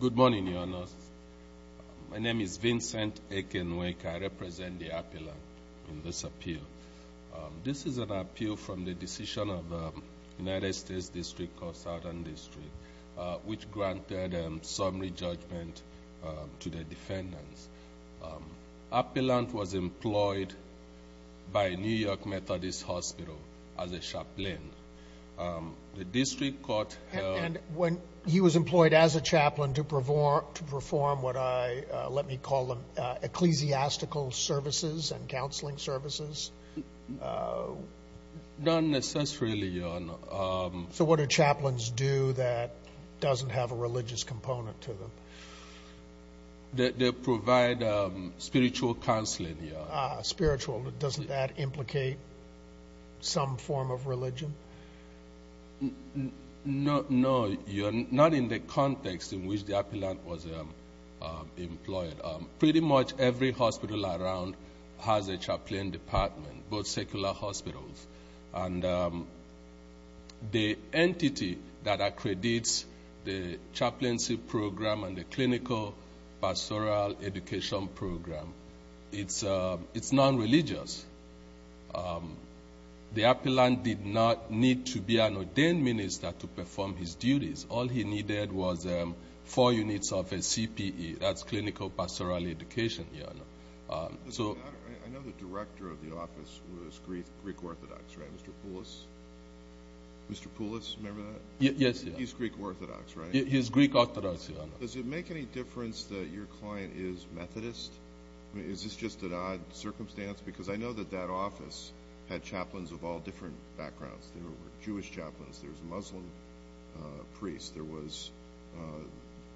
Good morning, Your Honor. My name is Vincent Aiken Wake. I represent the appellant in this appeal. This is an appeal from the decision of the United States District of Southern District, which granted a summary judgment to the defendants. Appellant was employed by New York Methodist Hospital as a chaplain. When he was employed as a chaplain to perform what I let me call ecclesiastical services and counseling services? Not necessarily, Your Honor. So what do chaplains do that doesn't have a religious component to them? They provide spiritual counseling. Spiritual, doesn't that implicate some form of religion? No, not in the context in which the appellant was employed. Pretty much every hospital around has a chaplain department, both secular hospitals. The entity that has a chaplain program, it's non-religious. The appellant did not need to be an ordained minister to perform his duties. All he needed was four units of a CPE, that's clinical pastoral education, Your Honor. I know the director of the office was Greek Orthodox, right? Mr. Poulos? Mr. Poulos, remember that? Yes, Your Honor. He's Greek Orthodox, right? Is this just an odd circumstance? Because I know that that office had chaplains of all different backgrounds. There were Jewish chaplains, there was a Muslim priest, there was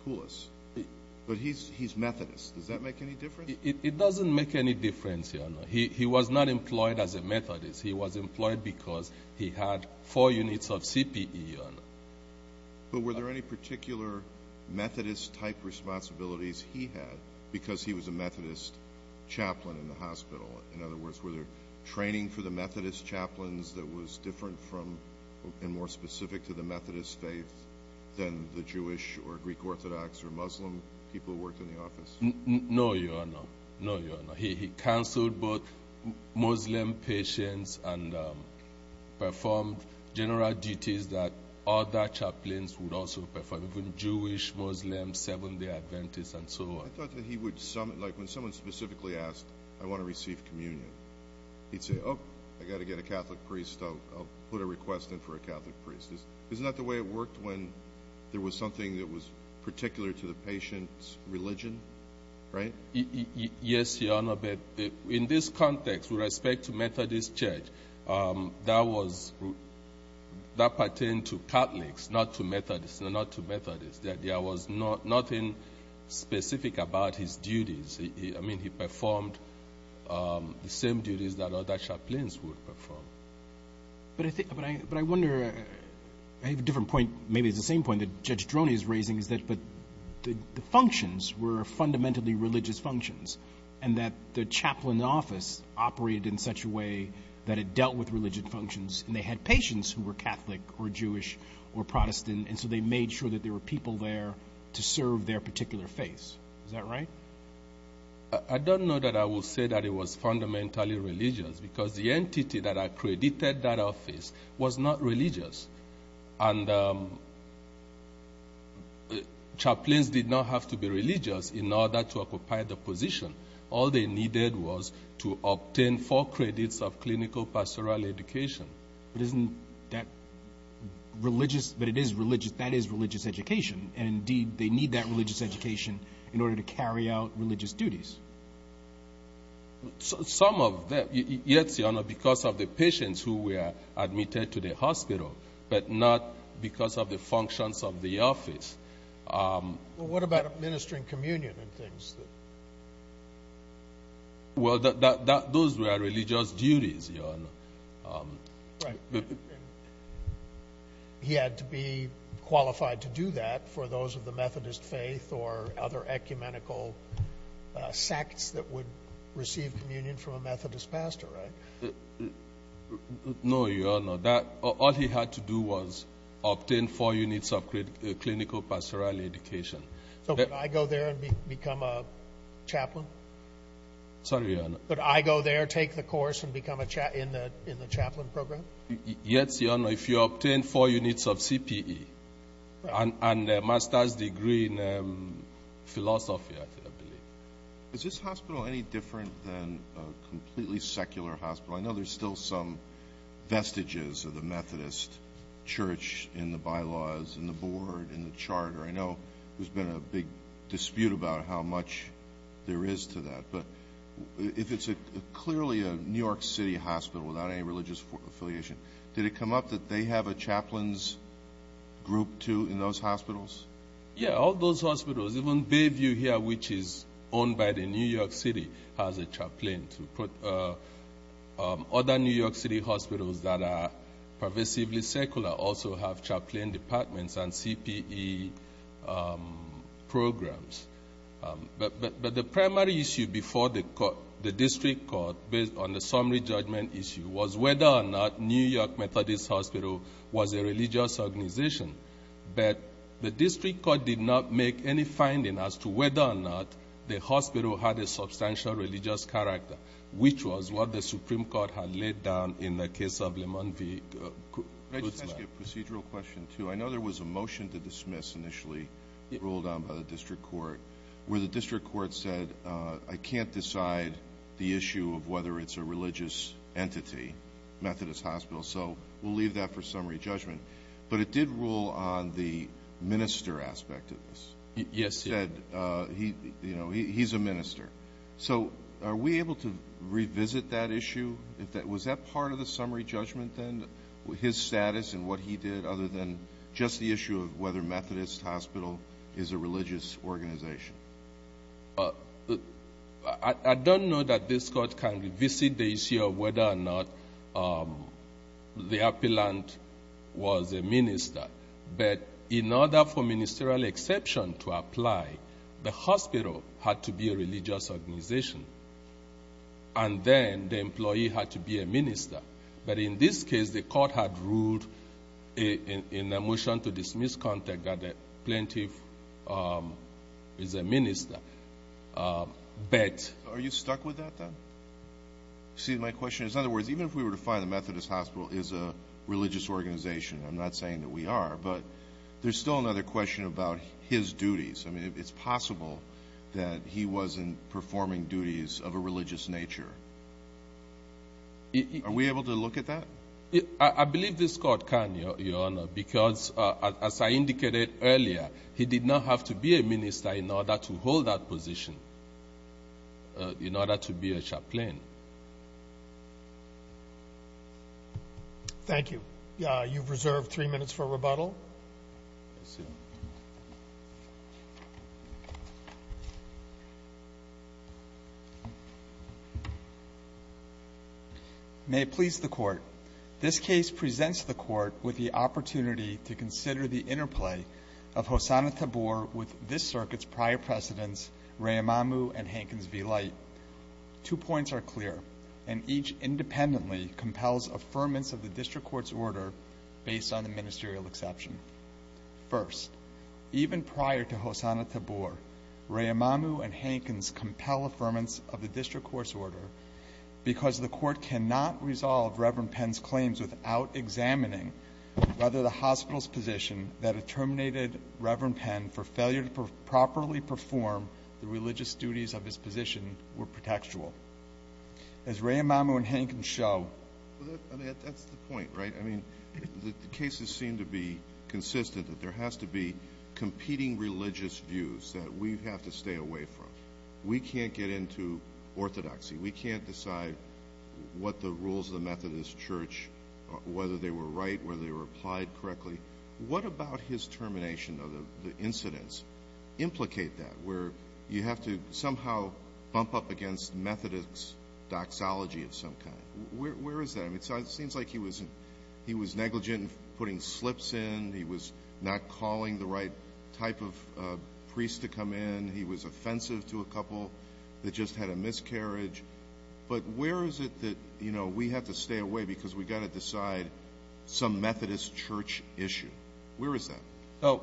Poulos, but he's Methodist. Does that make any difference? It doesn't make any difference, Your Honor. He was not employed as a Methodist. He was employed because he had four units of CPE, Your Honor. But were there any particular Methodist-type responsibilities he had because he was a Methodist chaplain in the hospital? In other words, were there training for the Methodist chaplains that was different from and more specific to the Methodist faith than the Jewish or Greek Orthodox or Muslim people who worked in the office? No, Your Honor. No, Your Honor. He counseled both would also perform, even Jewish, Muslim, Seventh-day Adventists, and so on. I thought that he would, like, when someone specifically asked, I want to receive communion, he'd say, oh, I got to get a Catholic priest. I'll put a request in for a Catholic priest. Isn't that the way it worked when there was something that was particular to the patient's religion, right? Yes, Your Honor, in this context with respect to Methodist church, that pertained to Catholics, not to Methodists. No, not to Methodists. There was nothing specific about his duties. I mean, he performed the same duties that other chaplains would perform. But I wonder, I have a different point, maybe it's the same point that Judge Droney is raising, is that the functions were fundamentally religious functions, and that the chaplain's office operated in such a way that it dealt with religious functions, and they had patients who were Catholic or Jewish or Protestant, and so they made sure that there were people there to serve their particular faiths. Is that right? I don't know that I will say that it was fundamentally religious, because the entity that accredited that office was not religious. And chaplains did not have to be religious in the position. All they needed was to obtain four credits of clinical pastoral education. But isn't that religious? That is religious education. And indeed, they need that religious education in order to carry out religious duties. Some of them, yes, Your Honor, because of the patients who were admitted to the hospital, but not because of the functions of the office. But what about administering communion and things? Well, those were religious duties, Your Honor. He had to be qualified to do that for those of the Methodist faith or other ecumenical sects that would receive communion from a Methodist pastor, right? No, Your Honor. All he had to do was obtain four units of clinical pastoral education. So could I go there and become a chaplain? Sorry, Your Honor. Could I go there, take the course, and become in the chaplain program? Yes, Your Honor, if you obtain four units of CPE and a master's degree in philosophy, I believe. Is this hospital any different than a completely secular hospital? I know there's still some vestiges of the Methodist church in the bylaws, in the board, in the charter. I know there's been a big dispute about how much there is to that. But if it's clearly a New York City hospital without any religious affiliation, did it come up that they have a chaplains group, too, in those hospitals? Yeah, all those hospitals. Even Bayview here, which is owned by the New York City, has a chaplain. Other New York City hospitals that are pervasively secular also have chaplain departments and CPE programs. But the primary issue before the district court, based on the summary judgment issue, was whether or not New York Methodist Hospital was a religious organization. But the district court did not make any finding as to whether or not the hospital had a substantial religious character, which was what the Supreme Court had laid down in the case of Lemon v. Gutzman. Can I just ask you a procedural question, too? I know there was a motion to dismiss initially ruled on by the district court, where the district court said, I can't decide the issue of whether it's a religious entity, Methodist Hospital. So we'll leave that for summary judgment. But it did rule on the minister aspect of this. He's a minister. So are we able to revisit that issue? Was that part of the summary judgment, then, his status and what he did, other than just the issue of whether Methodist Hospital is a religious organization? I don't know that this court can revisit the issue of whether or not the appellant was a minister. But in order for ministerial exception to apply, the hospital had to be a religious organization. And then the employee had to be a minister. But in this case, the court had ruled in the motion to dismiss contact that the plaintiff is a minister. Are you stuck with that, then? See, my question is, in other words, even if we were to find the Methodist Hospital is a religious organization, I'm not saying that we are, but there's still another question about his duties. I mean, it's possible that he wasn't performing duties of a religious nature. Are we able to look at that? I believe this court can, Your Honor, because as I indicated earlier, he did not have to be a minister in order to hold that position, in order to be a chaplain. Thank you. You've reserved three minutes for rebuttal. May it please the Court. This case presents the Court with the opportunity to consider the interplay of Hosanna-Tabor with this circuit's prior precedents, Rehamamu and Hankins v. Light. Two points are clear, and each independently compels affirmance of the district court's order based on the ministerial exception. First, even prior to Hosanna-Tabor, Rehamamu and Hankins compel affirmance of the district court's order because the Court cannot resolve Reverend Penn's claims without examining whether the hospital's position that had terminated Reverend Penn for failure to properly perform the religious duties of his position were pretextual. As Rehamamu and Hankins show— That's the point, right? I mean, the cases seem to be consistent that there has to be competing religious views that we have to stay away from. We can't get into orthodoxy. We can't decide what the rules of the Methodist Church, whether they were right, whether they were applied correctly. What about his termination of the incidents implicate that, where you have to bump up against Methodist doxology of some kind? Where is that? It seems like he was negligent in putting slips in. He was not calling the right type of priest to come in. He was offensive to a couple that just had a miscarriage. But where is it that we have to stay away because we've got to decide some Methodist Church issue? Where is that? So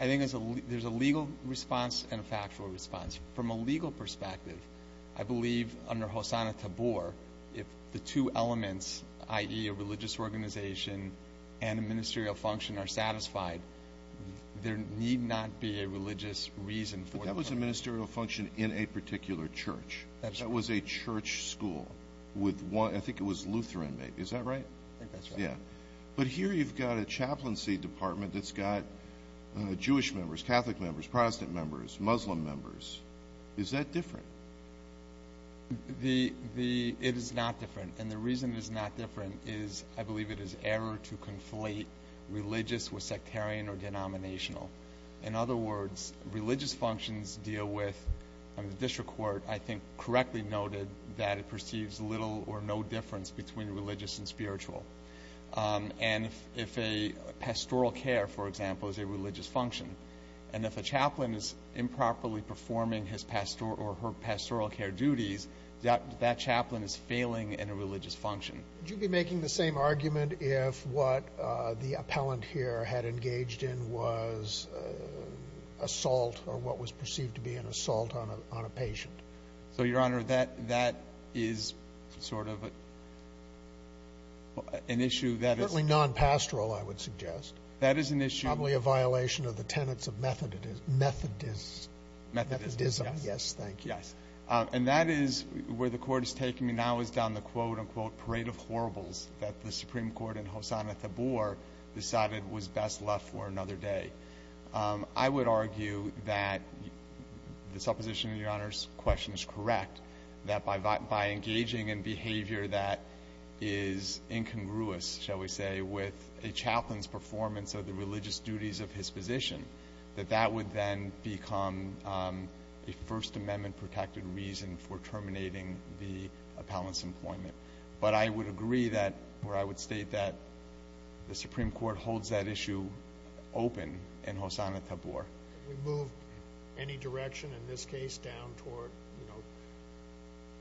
I think there's a legal response and a factual response. From a legal perspective, I believe under Hosanna-Tabor, if the two elements, i.e. a religious organization and a ministerial function, are satisfied, there need not be a religious reason for— But that was a ministerial function in a particular church. That was a church school with one—I think it was Lutheran, maybe. Is that right? I think that's right. But here you've got a chaplaincy department that's got Jewish members, Catholic members, Protestant members, Muslim members. Is that different? It is not different. And the reason it is not different is, I believe, it is error to conflate religious with sectarian or denominational. In other words, religious functions deal with—the district court, I think, correctly noted that it perceives little or no difference between religious and spiritual. And if a pastoral care, for example, is a religious function, and if a chaplain is improperly performing his pastoral or her pastoral care duties, that chaplain is failing in a religious function. Would you be making the same argument if what the appellant here had engaged in was assault or what was perceived to be an assault on a patient? So, Your Honor, that is sort of an issue that is— Certainly non-pastoral, I would suggest. That is an issue— Probably a violation of the tenets of Methodism. Methodism, yes. Methodism, yes. Thank you. Yes. And that is where the Court is taking me now is down the, quote, unquote, parade of horribles that the Supreme Court and Hosanna Tabor decided was best left for another day. I would argue that the supposition in Your Honor's question is correct, that by engaging in behavior that is incongruous, shall we say, with a chaplain's performance of the religious duties of his position, that that would then become a First Amendment-protected reason for terminating the appellant's employment. But I would agree that—or I would state that the Supreme Court holds that issue open in Hosanna Tabor. We move any direction in this case down toward, you know,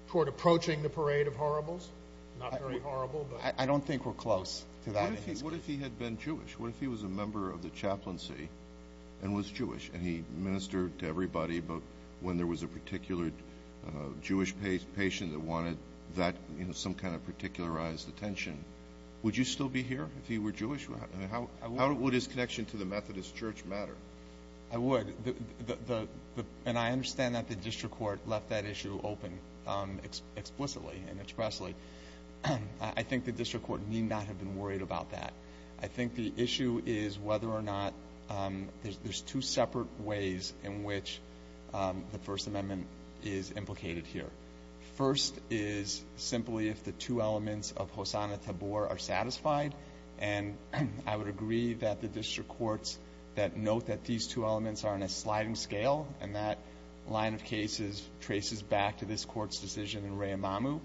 toward approaching the parade of horribles? Not very horrible, but— I don't think we're close to that in this case. What if he had been Jewish? What if he was a member of the chaplaincy and was Jewish and he ministered to everybody, but when there was a particular Jewish patient that wanted that, you know, some kind of particularized attention, would you still be here if he were Jewish? How would his connection to the Methodist Church matter? I would. And I understand that the district court left that issue open explicitly and expressly. I think the district court need not have been worried about that. I think the issue is whether or not—there's two separate ways in which the First Amendment is implicated here. First is simply if the two elements of Hosanna Tabor are satisfied. And I would agree that the district courts that note that these two elements are on a sliding scale and that line of cases traces back to this court's decision in Rehamamu,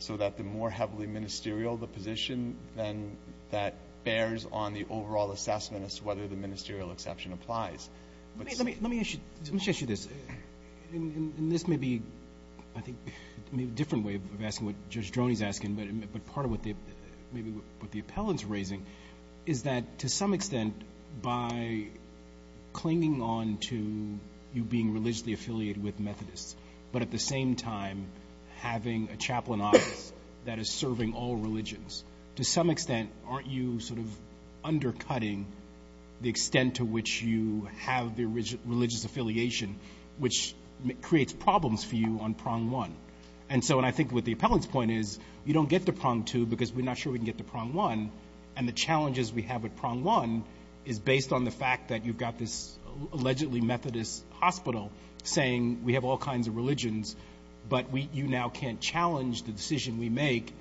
so that the more heavily ministerial the position, then that bears on the overall assessment as to whether the ministerial exception applies. Let me issue this. And this may be, I think, a different way of asking what Judge Droney's asking, but part of what the—maybe what the appellant's raising is that, to some extent, by clinging on to you being religiously affiliated with Methodists, but at the same time having a chaplain office that is serving all religions, to some extent, aren't you sort of undercutting the extent to which you have the religious affiliation, which creates problems for you on prong one? And so—and I think what the appellant's point is, you don't get to prong two because we're not sure we can get to prong one. And the challenges we have at prong one is based on the fact that you've got this allegedly Methodist hospital saying we have all kinds of religions, but we—you now can't challenge the decision we make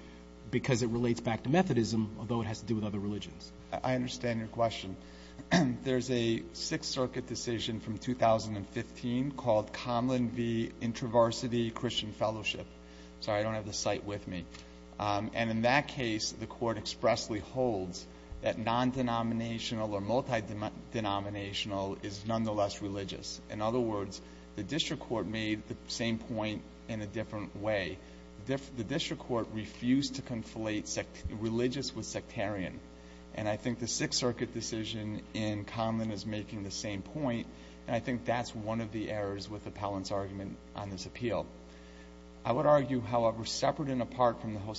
because it relates back to Methodism, although it has to do with other religions. I understand your question. There's a Sixth Circuit decision from 2015 called Comlin v. Intraversity Christian Fellowship. Sorry, I don't have the site with me. And in that case, the Court expressly holds that non-denominational or multi-denominational is nonetheless religious. In other words, the District Court made the same point in a different way. The District Court refused to conflate religious with sectarian. And I think the Sixth Circuit decision in Comlin is making the same point, and I think that's one of the errors with the appellant's argument on this appeal. I would argue, however, separate and apart from the for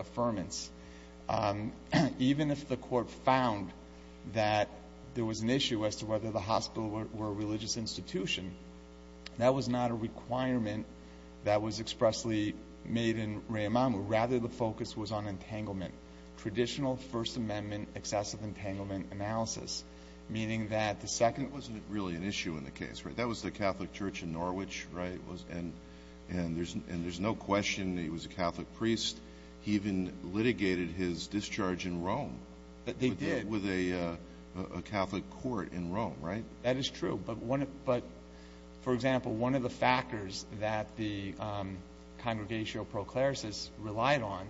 affirmance. Even if the Court found that there was an issue as to whether the hospital were a religious institution, that was not a requirement that was expressly made in Re'emamu. Rather, the focus was on entanglement, traditional First Amendment excessive entanglement analysis, meaning that the second— It wasn't really an issue in the case, right? That was the Catholic Church in Norwich, right? And there's no question he was a Catholic priest. He even litigated his discharge in Rome. But they did. With a Catholic court in Rome, right? That is true. But for example, one of the factors that the Congregational Proclaris relied on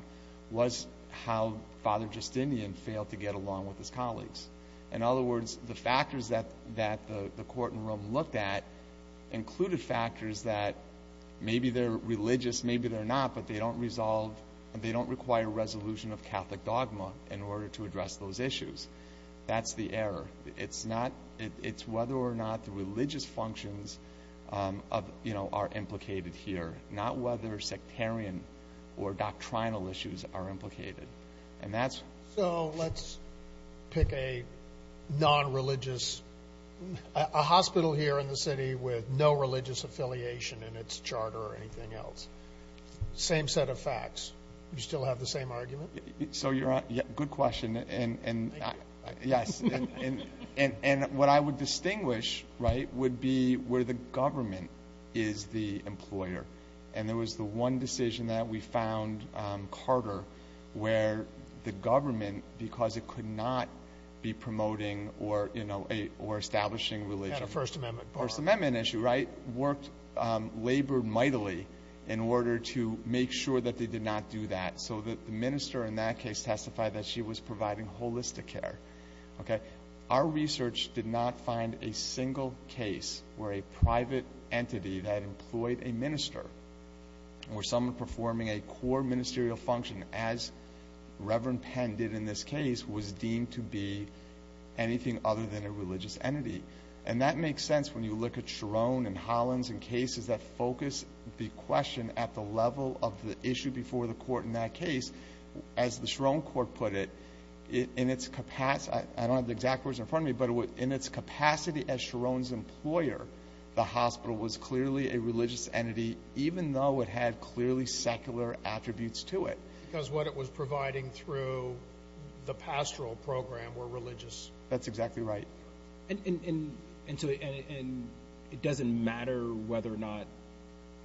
was how Father Justinian failed to get along with his colleagues. In other words, the factors that the court in Rome looked at included factors that maybe they're religious, maybe they're not, but they don't resolve—they don't require resolution of Catholic dogma in order to address those issues. That's the error. It's not—it's whether or not the religious functions are implicated here, not whether sectarian or doctrinal issues are implicated. And that's— Let's pick a non-religious—a hospital here in the city with no religious affiliation in its charter or anything else. Same set of facts. You still have the same argument? So you're—good question. And— Thank you. Yes. And what I would distinguish, right, would be where the government is the employer. And there was the one decision that we found, Carter, where the government, because it could not be promoting or, you know, a—or establishing religion— Had a First Amendment bar. First Amendment issue, right? Worked—labored mightily in order to make sure that they did not do that. So the minister in that case testified that she was providing holistic care. Okay? Our research did not find a single case where a private entity that employed a minister or someone performing a core ministerial function, as Reverend Penn did in this case, was deemed to be anything other than a religious entity. And that makes sense when you look at Chiron and Hollins and cases that focus the question at the level of the issue before the I don't have the exact words in front of me, but in its capacity as Chiron's employer, the hospital was clearly a religious entity, even though it had clearly secular attributes to it. Because what it was providing through the pastoral program were religious. That's exactly right. And so—and it doesn't matter whether or not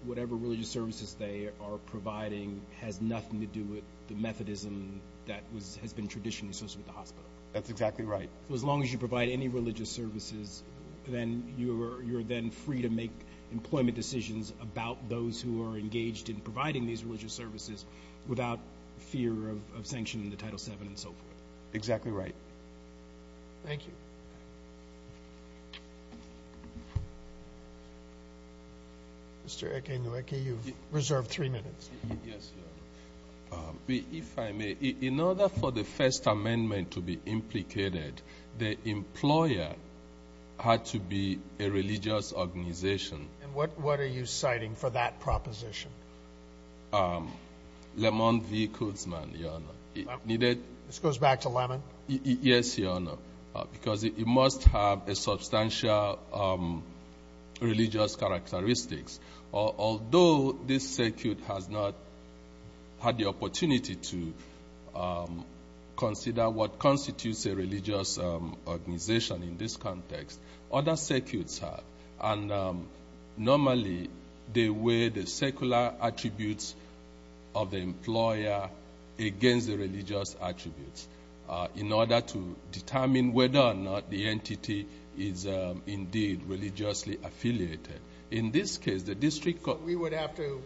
whatever religious services they are providing has nothing to do with the Methodism that was—has been traditionally associated with the hospital. That's exactly right. So as long as you provide any religious services, then you're then free to make employment decisions about those who are engaged in providing these religious services without fear of sanctioning the Title VII and so forth. Exactly right. Thank you. Mr. Ekenyeweke, you've reserved three minutes. Yes, Your Honor. If I may, in order for the First Amendment to be implicated, the employer had to be a religious organization. And what are you citing for that proposition? Lemon v. Kuzman, Your Honor. This goes back to Lemon? Yes, Your Honor. Because it must have a substantial religious characteristics. Although this circuit has not had the opportunity to consider what constitutes a religious organization in this context, other circuits have. And normally, they weigh the secular attributes of the employer against the religious attributes in order to determine whether or not the entity is indeed religiously affiliated. In this case, the district... We would have to...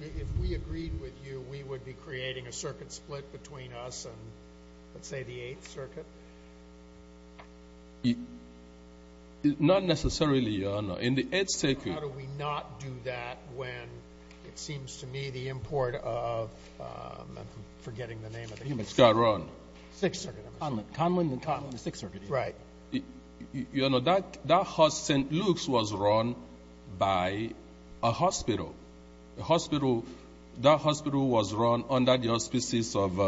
If we agreed with you, we would be creating a circuit split between us and, let's say, the Eighth Circuit? Not necessarily, Your Honor. In the Eighth Circuit... How do we not do that when, it seems to me, the import of... I'm forgetting the name of the... Hematskar Run. Sixth Circuit, I'm assuming. Conlon and Conlon, the Sixth Circuit. Right. Your Honor, St. Luke's was run by a hospital. That hospital was run under the auspices of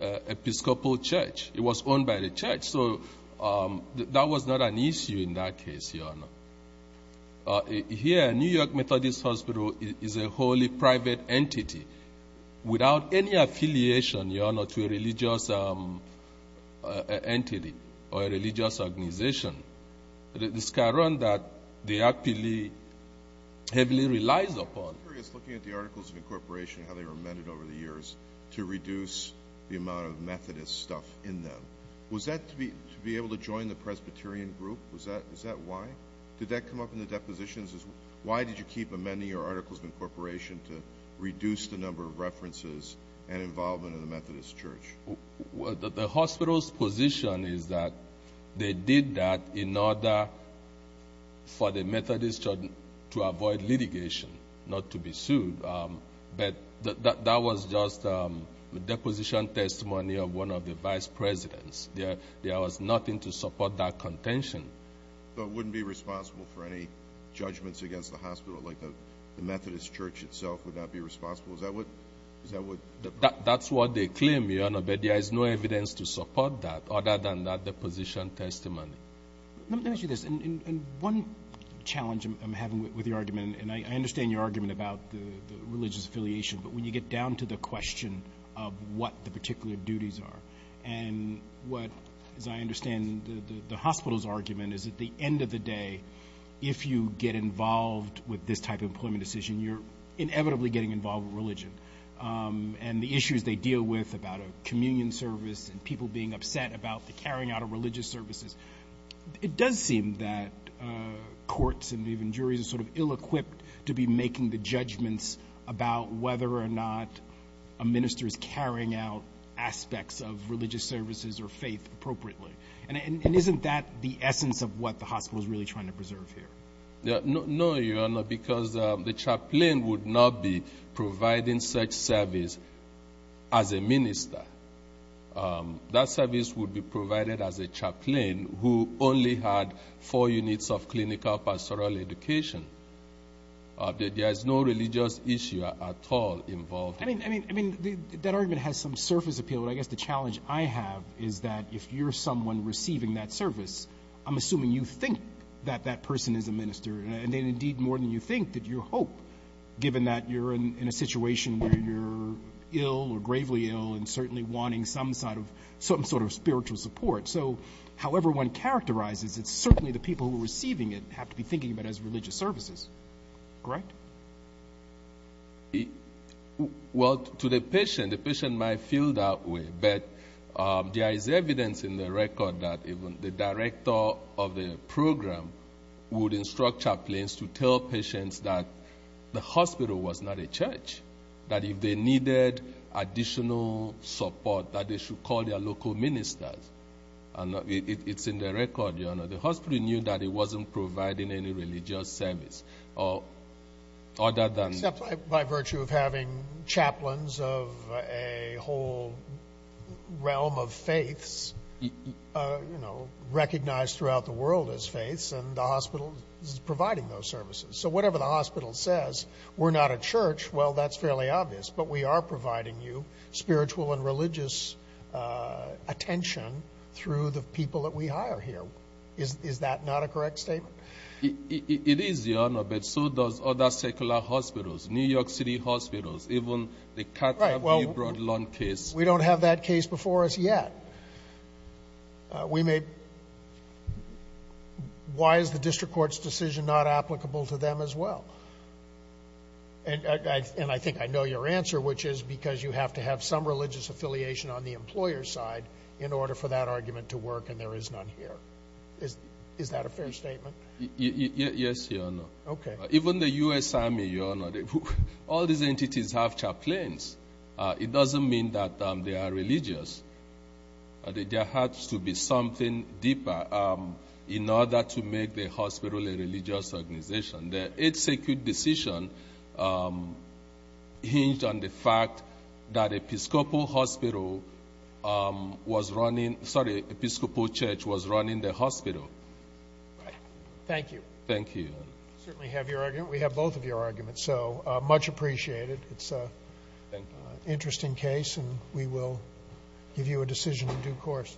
Episcopal Church. It was owned by the church. So that was not an issue in that case, Your Honor. Here, New York Methodist Hospital is a wholly private entity without any affiliation, Your Honor. It's a religious organization. The Hematskar Run that they actually heavily relies upon... I'm curious, looking at the Articles of Incorporation, how they were amended over the years to reduce the amount of Methodist stuff in them. Was that to be able to join the Presbyterian group? Was that why? Did that come up in the depositions? Why did you keep amending your Articles of Incorporation to reduce the number of references and involvement in the Methodist Church? The hospital's position is that they did that in order for the Methodist Church to avoid litigation, not to be sued. But that was just a deposition testimony of one of the vice presidents. There was nothing to support that contention. So it wouldn't be responsible for any judgments against the hospital? Like the Methodist Church itself would not be responsible? Is that what... That's what they claim, Your Honor, but there is no evidence to support that other than that deposition testimony. Let me ask you this. One challenge I'm having with your argument, and I understand your argument about the religious affiliation, but when you get down to the question of what the particular duties are, and what, as I understand, the hospital's argument is at the end of the day, if you get involved with this type of employment decision, you're inevitably getting involved with religion. And the issues they deal with about a communion service and people being upset about the carrying out of religious services. It does seem that courts and even juries are sort of ill-equipped to be making the judgments about whether or not a minister is carrying out aspects of religious services or faith appropriately. And isn't that the essence of what the hospital is really trying to preserve here? No, Your Honor, because the chaplain would not be providing such service as a minister. That service would be provided as a chaplain who only had four units of clinical pastoral education. There is no religious issue at all involved. I mean, that argument has some surface appeal. But I guess the challenge I have is that if you're someone receiving that service, I'm And then indeed, more than you think, that you hope, given that you're in a situation where you're ill or gravely ill and certainly wanting some sort of spiritual support. So however one characterizes it, certainly the people who are receiving it have to be thinking about it as religious services, correct? Well, to the patient, the patient might feel that way, but there is evidence in the record that even the director of the program would instruct chaplains to tell patients that the hospital was not a church, that if they needed additional support, that they should call their local ministers. And it's in the record, Your Honor. The hospital knew that it wasn't providing any religious service. Except by virtue of having chaplains of a whole realm of faiths, you know, recognized throughout the world as faiths, and the hospital is providing those services. So whatever the hospital says, we're not a church, well, that's fairly obvious. But we are providing you spiritual and religious attention through the people that we hire here. Is that not a correct statement? It is, Your Honor, but so does other secular hospitals, New York City hospitals, even the Carter v. Broadlawn case. We don't have that case before us yet. Why is the district court's decision not applicable to them as well? And I think I know your answer, which is because you have to have some religious affiliation on the employer's side in order for that argument to work, and there is none here. Is that a fair statement? Yes, Your Honor. Okay. Even the U.S. Army, Your Honor, all these entities have chaplains. It doesn't mean that they are religious. There has to be something deeper in order to make the hospital a religious organization. The executive decision hinged on the fact that Episcopal Church was running the hospital. Right. Thank you. Thank you. Certainly have your argument. We have both of your arguments, so much appreciated. It's an interesting case, and we will give you a decision in due course.